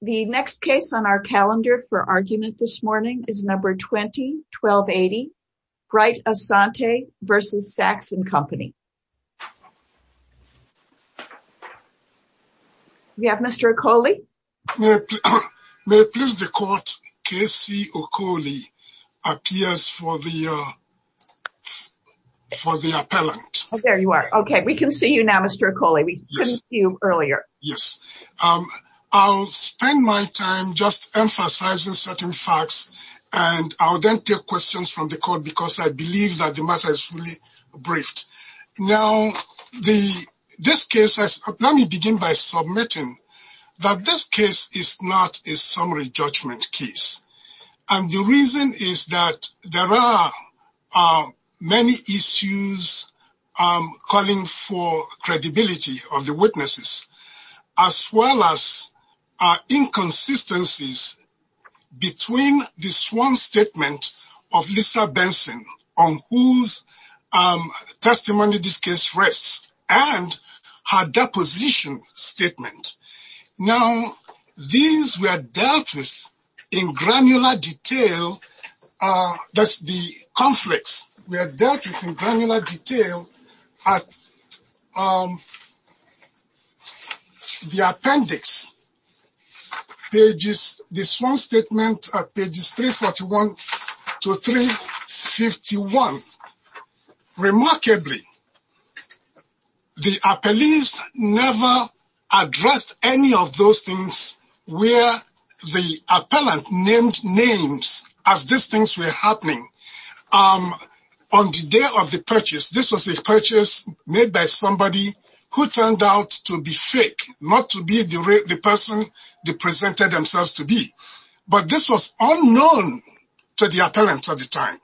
The next case on our calendar for argument this morning is number 20-1280, Bright-Asante v. Saks & Company. We have Mr. Okole. May it please the court, K.C. Okole appears for the appellant. There you are. Okay, we can see you now, Mr. Okole. We couldn't see you earlier. Yes, I'll spend my time just emphasizing certain facts and I'll then take questions from the court because I believe that the matter is fully briefed. Now, let me begin by submitting that this case is not a summary judgment case and the reason is that there are many issues calling for credibility of the witnesses as well as inconsistencies between this one statement of Lisa Benson on whose testimony this case rests and her deposition statement. Now, these were dealt with in granular detail, that's the conflicts, were dealt with in granular any of those things where the appellant named names as these things were happening. On the day of the purchase, this was a purchase made by somebody who turned out to be fake, not to be the person they presented themselves to be, but this was unknown to the appellant at the time.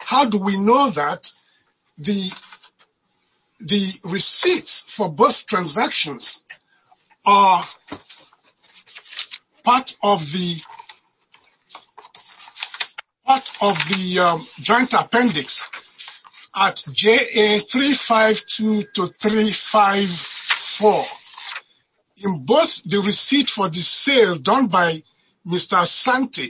How do we know that the receipts for both transactions are part of the joint appendix at JA 352 to 354? In both the receipt for the sale done by Mr. Sante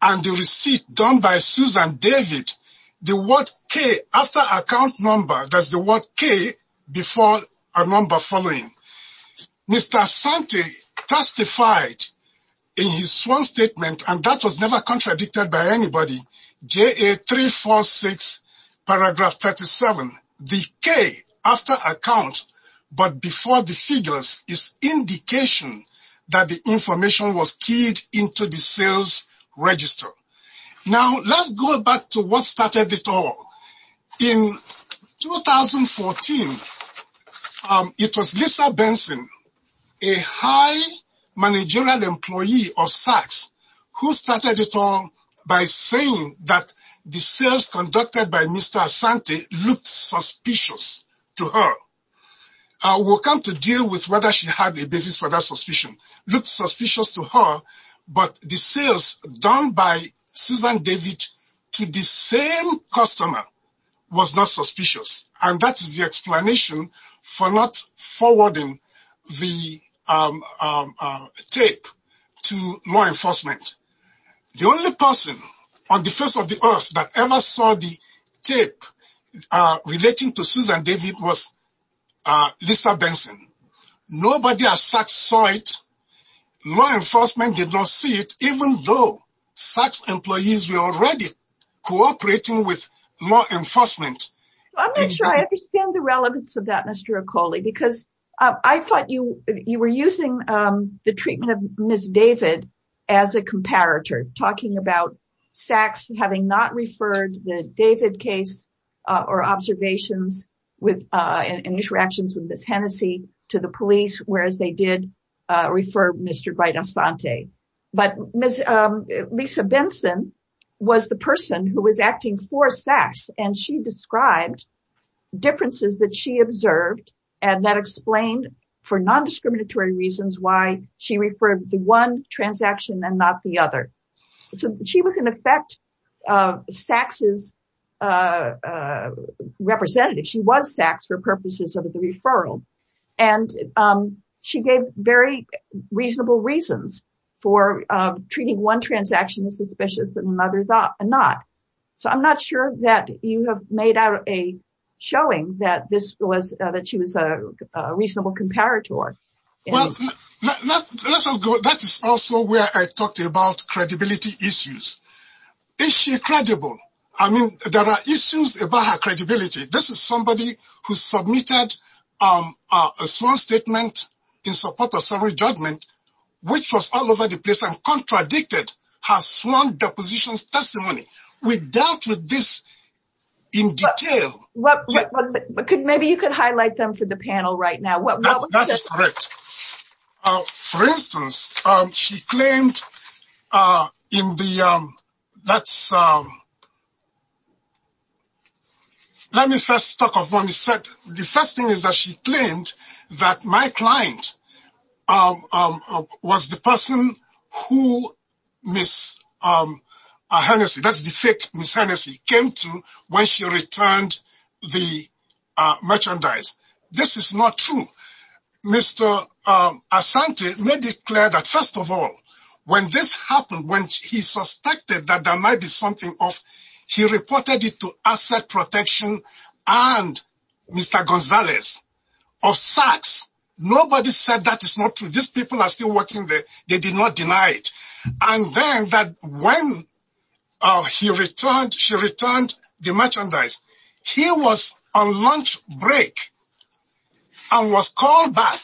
and the receipt done by Susan David, the word K after account number, that's the word K before a number following. Mr. Sante testified in his sworn statement, and that was never contradicted by anybody, JA 346 paragraph 37, the K after account but before the figures is indication that the information was keyed into the sales register. Now, let's go back to what started it all. In 2014, it was Lisa Benson, a high managerial employee of SACS, who started it all by saying that the sales conducted by Mr. Sante looked suspicious to her. I will come to deal with whether she had a basis for that suspicion, looked suspicious to her, but the sales done by Susan David to the same customer was not suspicious, and that is the explanation for not forwarding the tape to law enforcement. The only person on the face of the earth that ever saw the tape relating to Susan David was Lisa Benson. Nobody at SACS saw it. Law enforcement did not see it, even though SACS employees were already cooperating with law enforcement. I'm not sure I understand the relevance of that, Mr. Okole, because I thought you were using the treatment of Ms. David as a comparator, talking about SACS having not referred the David case or observations and interactions with Ms. Hennessey to the police, whereas they did refer Mr. Sante. But Lisa Benson was the person who was acting for SACS, and she described differences that she observed, and that explained for non-discriminatory reasons why she referred the one transaction and not the other. She was, in effect, SACS's representative. She was SACS for purposes of the referral, and she gave very reasonable reasons for treating one transaction as suspicious and another not. So I'm not sure that you have made out a showing that she was a reasonable comparator. That is also where I talked about credibility issues. Is she credible? I mean, there are issues about her credibility. This is somebody who submitted a sworn statement in support of summary judgment, which was all over the place and contradicted her sworn depositions testimony. We dealt with this in detail. Maybe you could highlight them for the panel right now. That is correct. For instance, she claimed that my client was the person who Ms. Hennessey came to when she returned the merchandise. This is not true. Mr. Asante made it clear that, first of all, when this happened, when he suspected that there might be something off, he reported it to Asset Protection and Mr. Gonzalez of SACS. Nobody said that is not true. These people are still working they did not deny it. And then when she returned the merchandise, he was on lunch break and was called back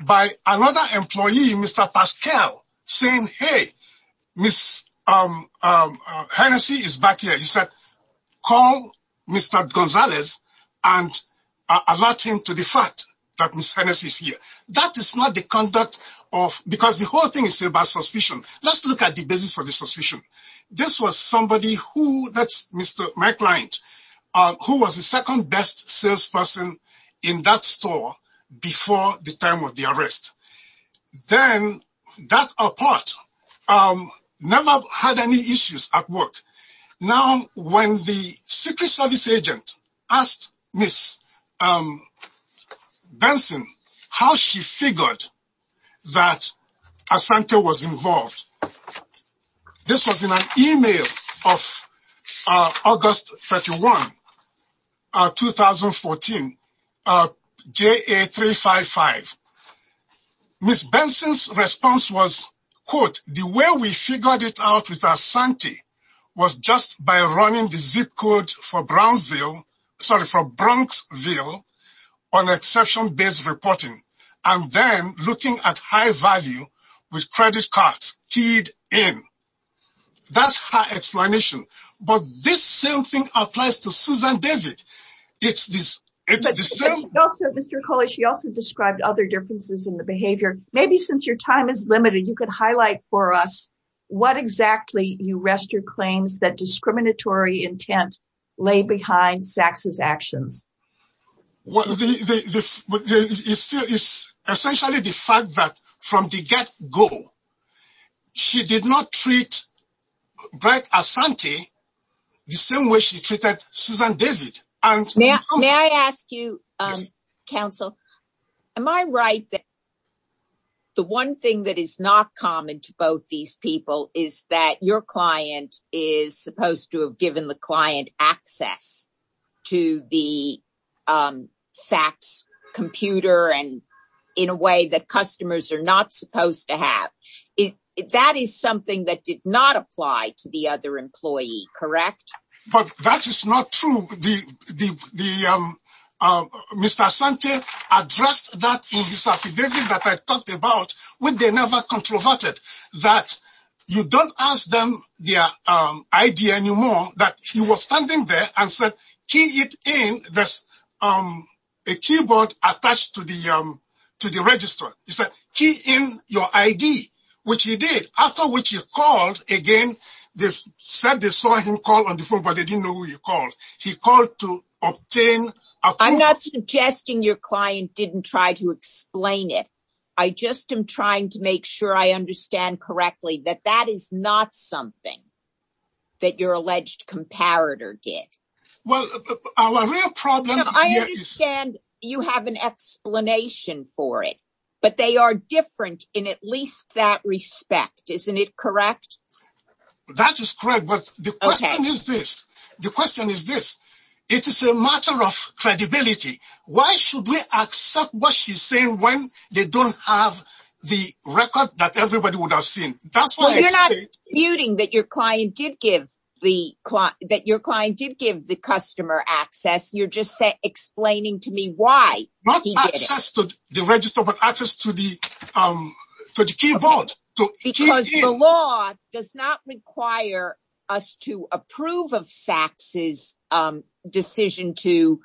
by another employee, Mr. Pascal, saying, hey, Ms. Hennessey is back here. He said, call Mr. Gonzalez and alert him to the fact that Ms. Hennessey is here. That is not the because the whole thing is about suspicion. Let's look at the basis for the suspicion. This was somebody who, that's my client, who was the second best salesperson in that store before the time of the arrest. Then that apart, never had any issues at work. Now, when the Secret Service agent asked Ms. Benson how she figured that Asante was involved, this was in an email of August 31, 2014, JA355. Ms. Benson's response was, quote, the way we figured it out with Asante was just by running the zip code for Brownsville, sorry, for Bronxville on exception based reporting, and then looking at high value with credit cards keyed in. That's her explanation. But this same thing applies to Susan David. Also, Mr. Okole, she also described other differences in the behavior. Maybe since your time is limited, you could highlight for us what exactly you rest your claims that discriminatory intent lay behind Sax's actions. Well, it's essentially the fact that from the get go, she did not treat Brett Asante the same way she treated Susan David. May I ask you, counsel, am I right that the one thing that is not common to both these people is that your client is supposed to have given the client access to the Sax computer and in a way that customers are not supposed to have. That is something that did not apply to the other employee, correct? But that is not true. Mr. Asante addressed that in his affidavit that I talked about, when they never controverted, that you don't ask them their ID anymore, that he was standing there and said, key it in. There's a keyboard attached to the register. He said, key in your ID, which he did. After which he called again. They said they saw him call on the phone, but they didn't know who he called. He called to obtain... I'm not suggesting your client didn't try to explain it. I just am trying to make sure I understand correctly that that is not something that your alleged comparator did. I understand you have an explanation for it, but they are different in at least that respect. Isn't it correct? That is correct. But the question is this, the question is this, it is a matter of credibility. Why should we accept what she's saying when they don't have the record that everybody would have seen? You're not disputing that your client did give the client, that your client did give the access to the keyboard. Because the law does not require us to approve of Sachs's decision to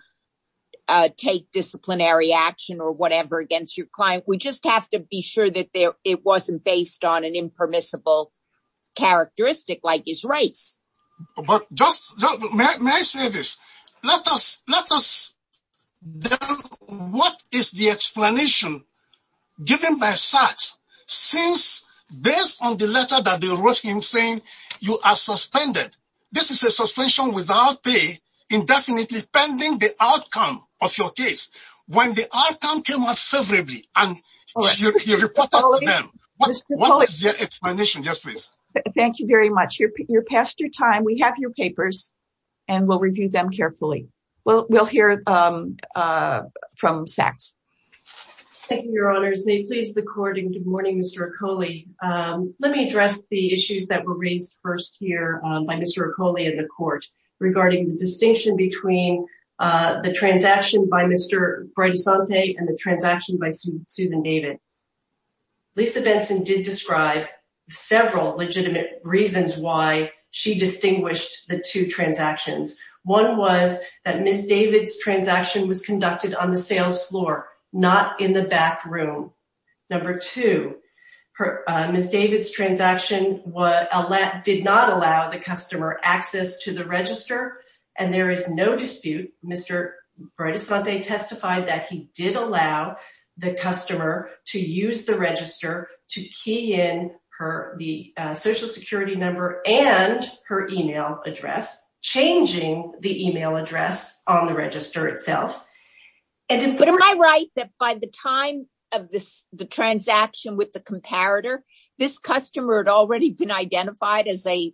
take disciplinary action or whatever against your client. We just have to be sure that it wasn't based on an impermissible characteristic like his race. But just, may I say this? Let us know what is the explanation given by Sachs since based on the letter that they wrote him saying you are suspended. This is a suspension without pay indefinitely pending the outcome of your case. When the outcome came out favorably and you reported to them. What's your explanation? Thank you very much. You're past your time. We have your papers and we'll review them carefully. We'll hear from Sachs. Thank you, your honors. May it please the court and good morning, Mr. Ecole. Let me address the issues that were raised first here by Mr. Ecole in the court regarding the distinction between the transaction by Mr. Bredesante and the transaction by Susan David. Lisa Benson did describe several legitimate reasons why she distinguished the two transactions. One was that Ms. David's transaction was conducted on the sales floor, not in the back room. Number two, Ms. David's transaction did not allow the customer access to the register and there is no the customer to use the register to key in the social security number and her email address, changing the email address on the register itself. But am I right that by the time of the transaction with the comparator, this customer had already been identified as a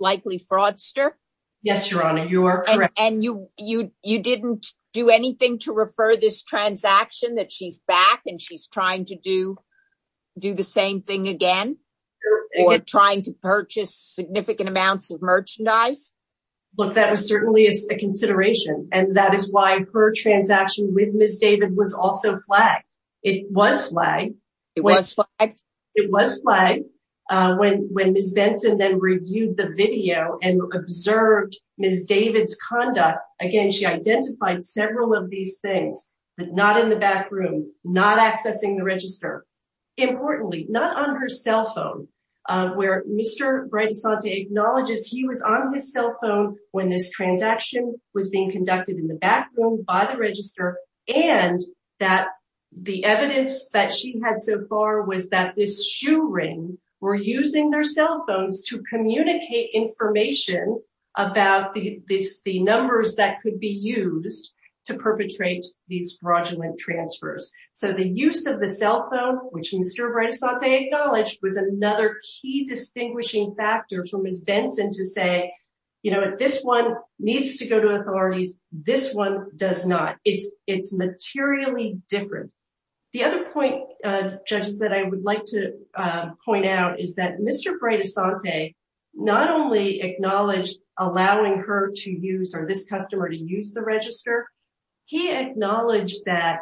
likely fraudster? Yes, anything to refer this transaction that she's back and she's trying to do the same thing again or trying to purchase significant amounts of merchandise? That was certainly a consideration and that is why her transaction with Ms. David was also flagged. It was flagged when Ms. Benson then reviewed the video and observed Ms. David's conduct. Again, she identified several of these things, but not in the back room, not accessing the register. Importantly, not on her cell phone, where Mr. Bredesante acknowledges he was on his cell phone when this transaction was being conducted in the back room by the register and that the evidence that she had so far was that this shoe ring were using their cell phones to communicate information about the numbers that could be used to perpetrate these fraudulent transfers. So the use of the cell phone, which Mr. Bredesante acknowledged was another key distinguishing factor for Ms. Benson to say, this one needs to go to authorities, this one does not. It's materially different. The other point, judges, that I would like to point out is that Mr. Bredesante not only acknowledged allowing her to use or this customer to use the register, he acknowledged that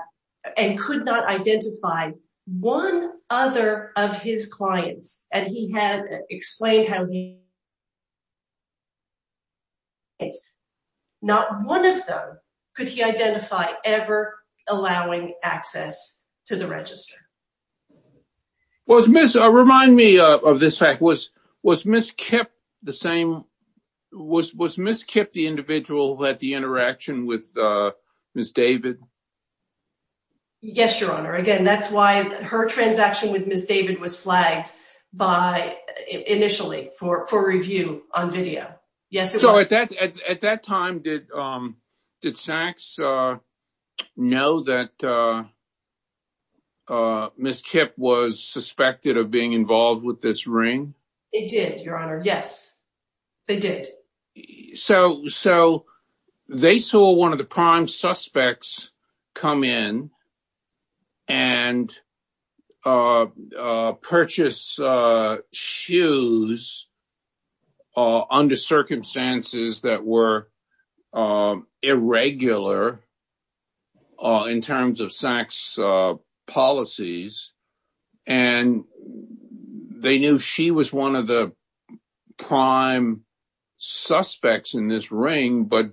and could not identify one other of his clients and he had explained how he not one of them could he identify ever allowing access to the register. Well, remind me of this fact, was Ms. Kip the same, was Ms. Kip the individual who had the interaction with Ms. David? Yes, Your Honor. Again, that's why her transaction with Ms. David was flagged by initially for review on video. So at that time, did Sachs know that Ms. Kip was suspected of being involved with this ring? It did, Your Honor. Yes, they did. So they saw one of the prime suspects come in and purchase shoes under circumstances that were and they knew she was one of the prime suspects in this ring, but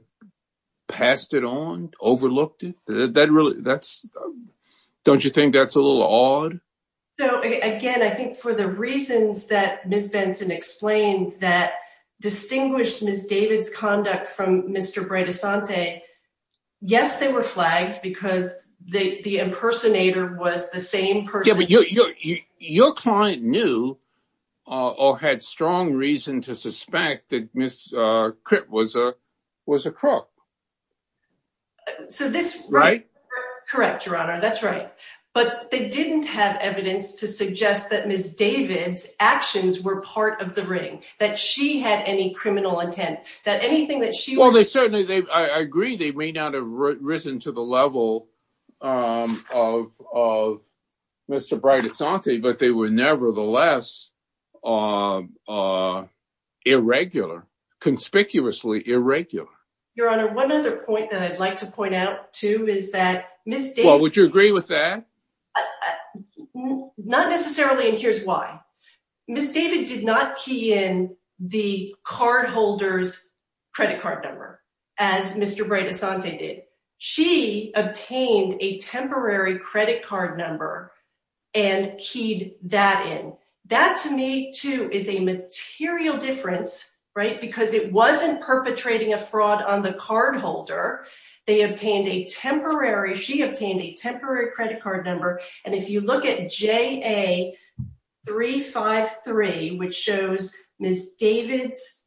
passed it on, overlooked it. Don't you think that's a little odd? So again, I think for the reasons that Ms. Benson explained that distinguished Ms. David's conduct from Mr. Bredesante, yes, they were flagged because the impersonator was the same person. Yeah, but your client knew or had strong reason to suspect that Ms. Kip was a crook. So this... Right? Correct, Your Honor. That's right. But they didn't have evidence to suggest that Ms. David's actions were part of the ring, that she had any criminal intent, that anything that she... I agree they may not have risen to the level of Mr. Bredesante, but they were nevertheless irregular, conspicuously irregular. Your Honor, one other point that I'd like to point out too is that Ms. David... Well, would you agree with that? I... Not necessarily, and here's why. Ms. David did not key in the cardholder's credit card number as Mr. Bredesante did. She obtained a temporary credit card number and keyed that in. That to me too is a material difference, right? Because it wasn't perpetrating a fraud on the cardholder. They obtained a temporary... She obtained a temporary credit card number. And if you look at JA353, which shows Ms. David's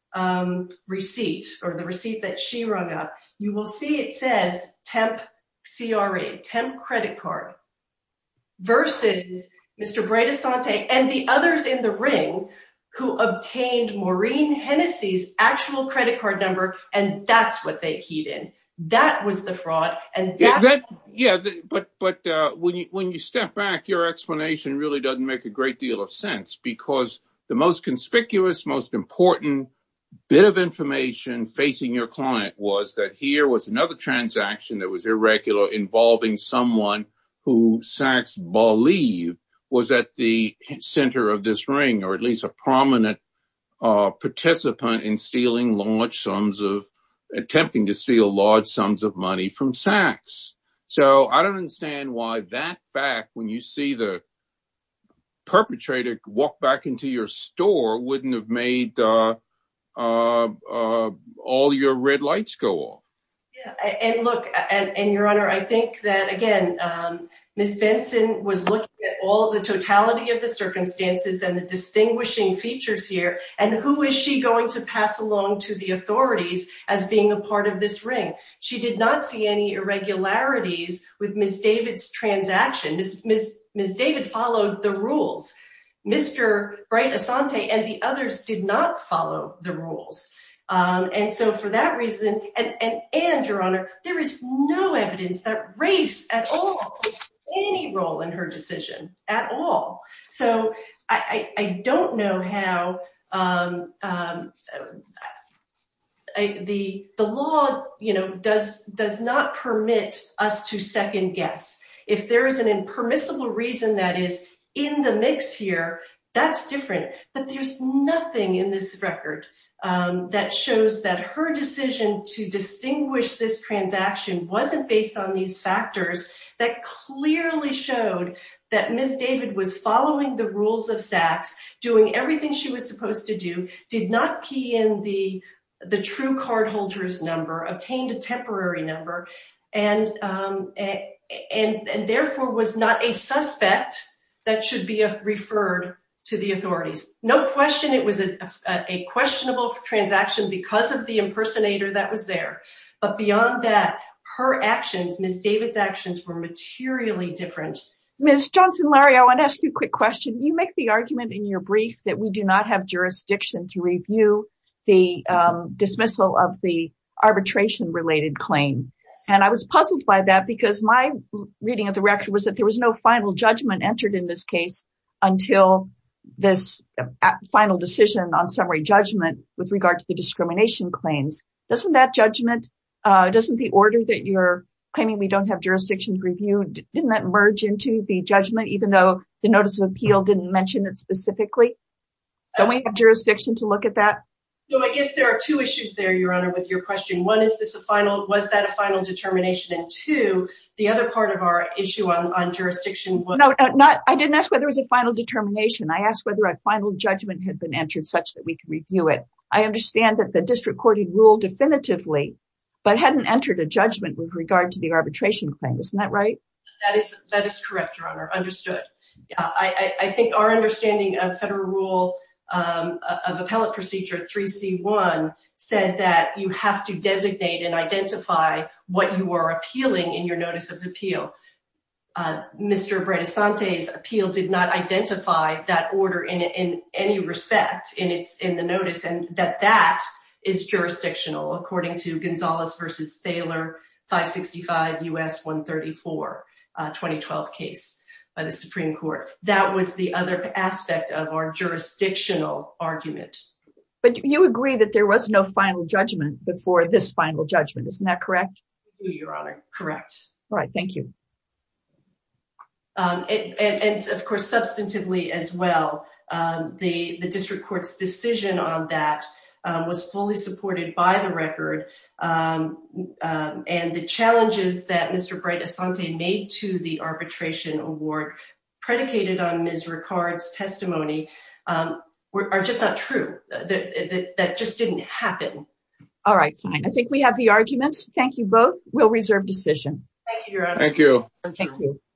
receipt or the receipt that she rung up, you will see it says temp CRA, temp credit card, versus Mr. Bredesante and the others in the ring who obtained Maureen Hennessy's actual credit card number, and that's what they keyed in. That was the fraud, and that... Yeah, but when you step back, your explanation really doesn't make a great deal of sense, because the most conspicuous, most important bit of information facing your client was that here was another transaction that was irregular involving someone who Sachs believed was at the center of this ring, or at least a prominent participant in stealing large sums of... Attempting to steal large sums of money from Sachs. So I don't understand why that fact, when you see the perpetrator walk back into your store, wouldn't have made all your red lights go off. Yeah, and look, and Your Honor, I think that, again, Ms. Benson was looking at all the totality of the circumstances and the distinguishing features here, and who is she going to pass along to the authorities as being a part of this ring? She did not see any irregularities with Ms. David's transaction. Ms. David followed the rules. Mr. Bright-Asante and the others did not follow the rules. And so for that reason, and Your Honor, there is no evidence that race at all played any role in her decision at all. So I don't know how... The law does not permit us to second guess. If there is an impermissible reason that is in the mix here, that's different. But there's nothing in this record that shows that her decision to distinguish this transaction wasn't based on these factors that clearly showed that Ms. David was following the rules of Sachs, doing everything she was supposed to do, did not key in the true cardholder's number, obtained a temporary number, and therefore was not a suspect that should be referred to the authorities. No question it was a questionable transaction because of the impersonator that was there. But beyond that, her actions, Ms. David's actions were materially different. Ms. Johnson-Larry, I want to ask you a quick question. You make the argument in your brief that we do not have jurisdiction to review the dismissal of the arbitration-related claim. And I was puzzled by that because my reading of the record was that there was no final judgment entered in this case until this final decision on summary judgment with regard to the discrimination claims. Doesn't that judgment, doesn't the order that you're claiming we don't have jurisdiction to review, didn't that merge into the judgment even though the notice of appeal didn't mention it specifically? Don't we have jurisdiction to look at that? So I guess there are two issues there, Your Honor, with your question. One, was that a final determination? And two, the other part of our issue on jurisdiction was... No, I didn't ask whether it was a final determination. I asked whether a final judgment had been entered such that we could review it. I understand that the district court had ruled definitively, but hadn't entered a judgment with regard to the arbitration claim. Isn't that right? That is correct, Your Honor, understood. I think our understanding of federal rule of appellate procedure 3C1 said that you have to designate and identify what you are appealing in your notice of appeal. Mr. Bredesante's appeal did not identify that order in any respect in the notice, and that that is jurisdictional, according to Gonzalez v. Thaler, 565 U.S. 134, 2012 case by the Supreme Court. That was the other aspect of our jurisdictional argument. But you agree that there was no final judgment before this final judgment, isn't that correct? I do, Your Honor, correct. All right, thank you. And of course, substantively as well, the district court's decision on that was fully supported by the record. And the challenges that Mr. Bredesante made to the arbitration award predicated on Ms. Ricard's testimony are just not true. That just didn't happen. All right, fine. I think we have the arguments. Thank you both. We'll reserve decision. Thank you, Your Honor. Thank you.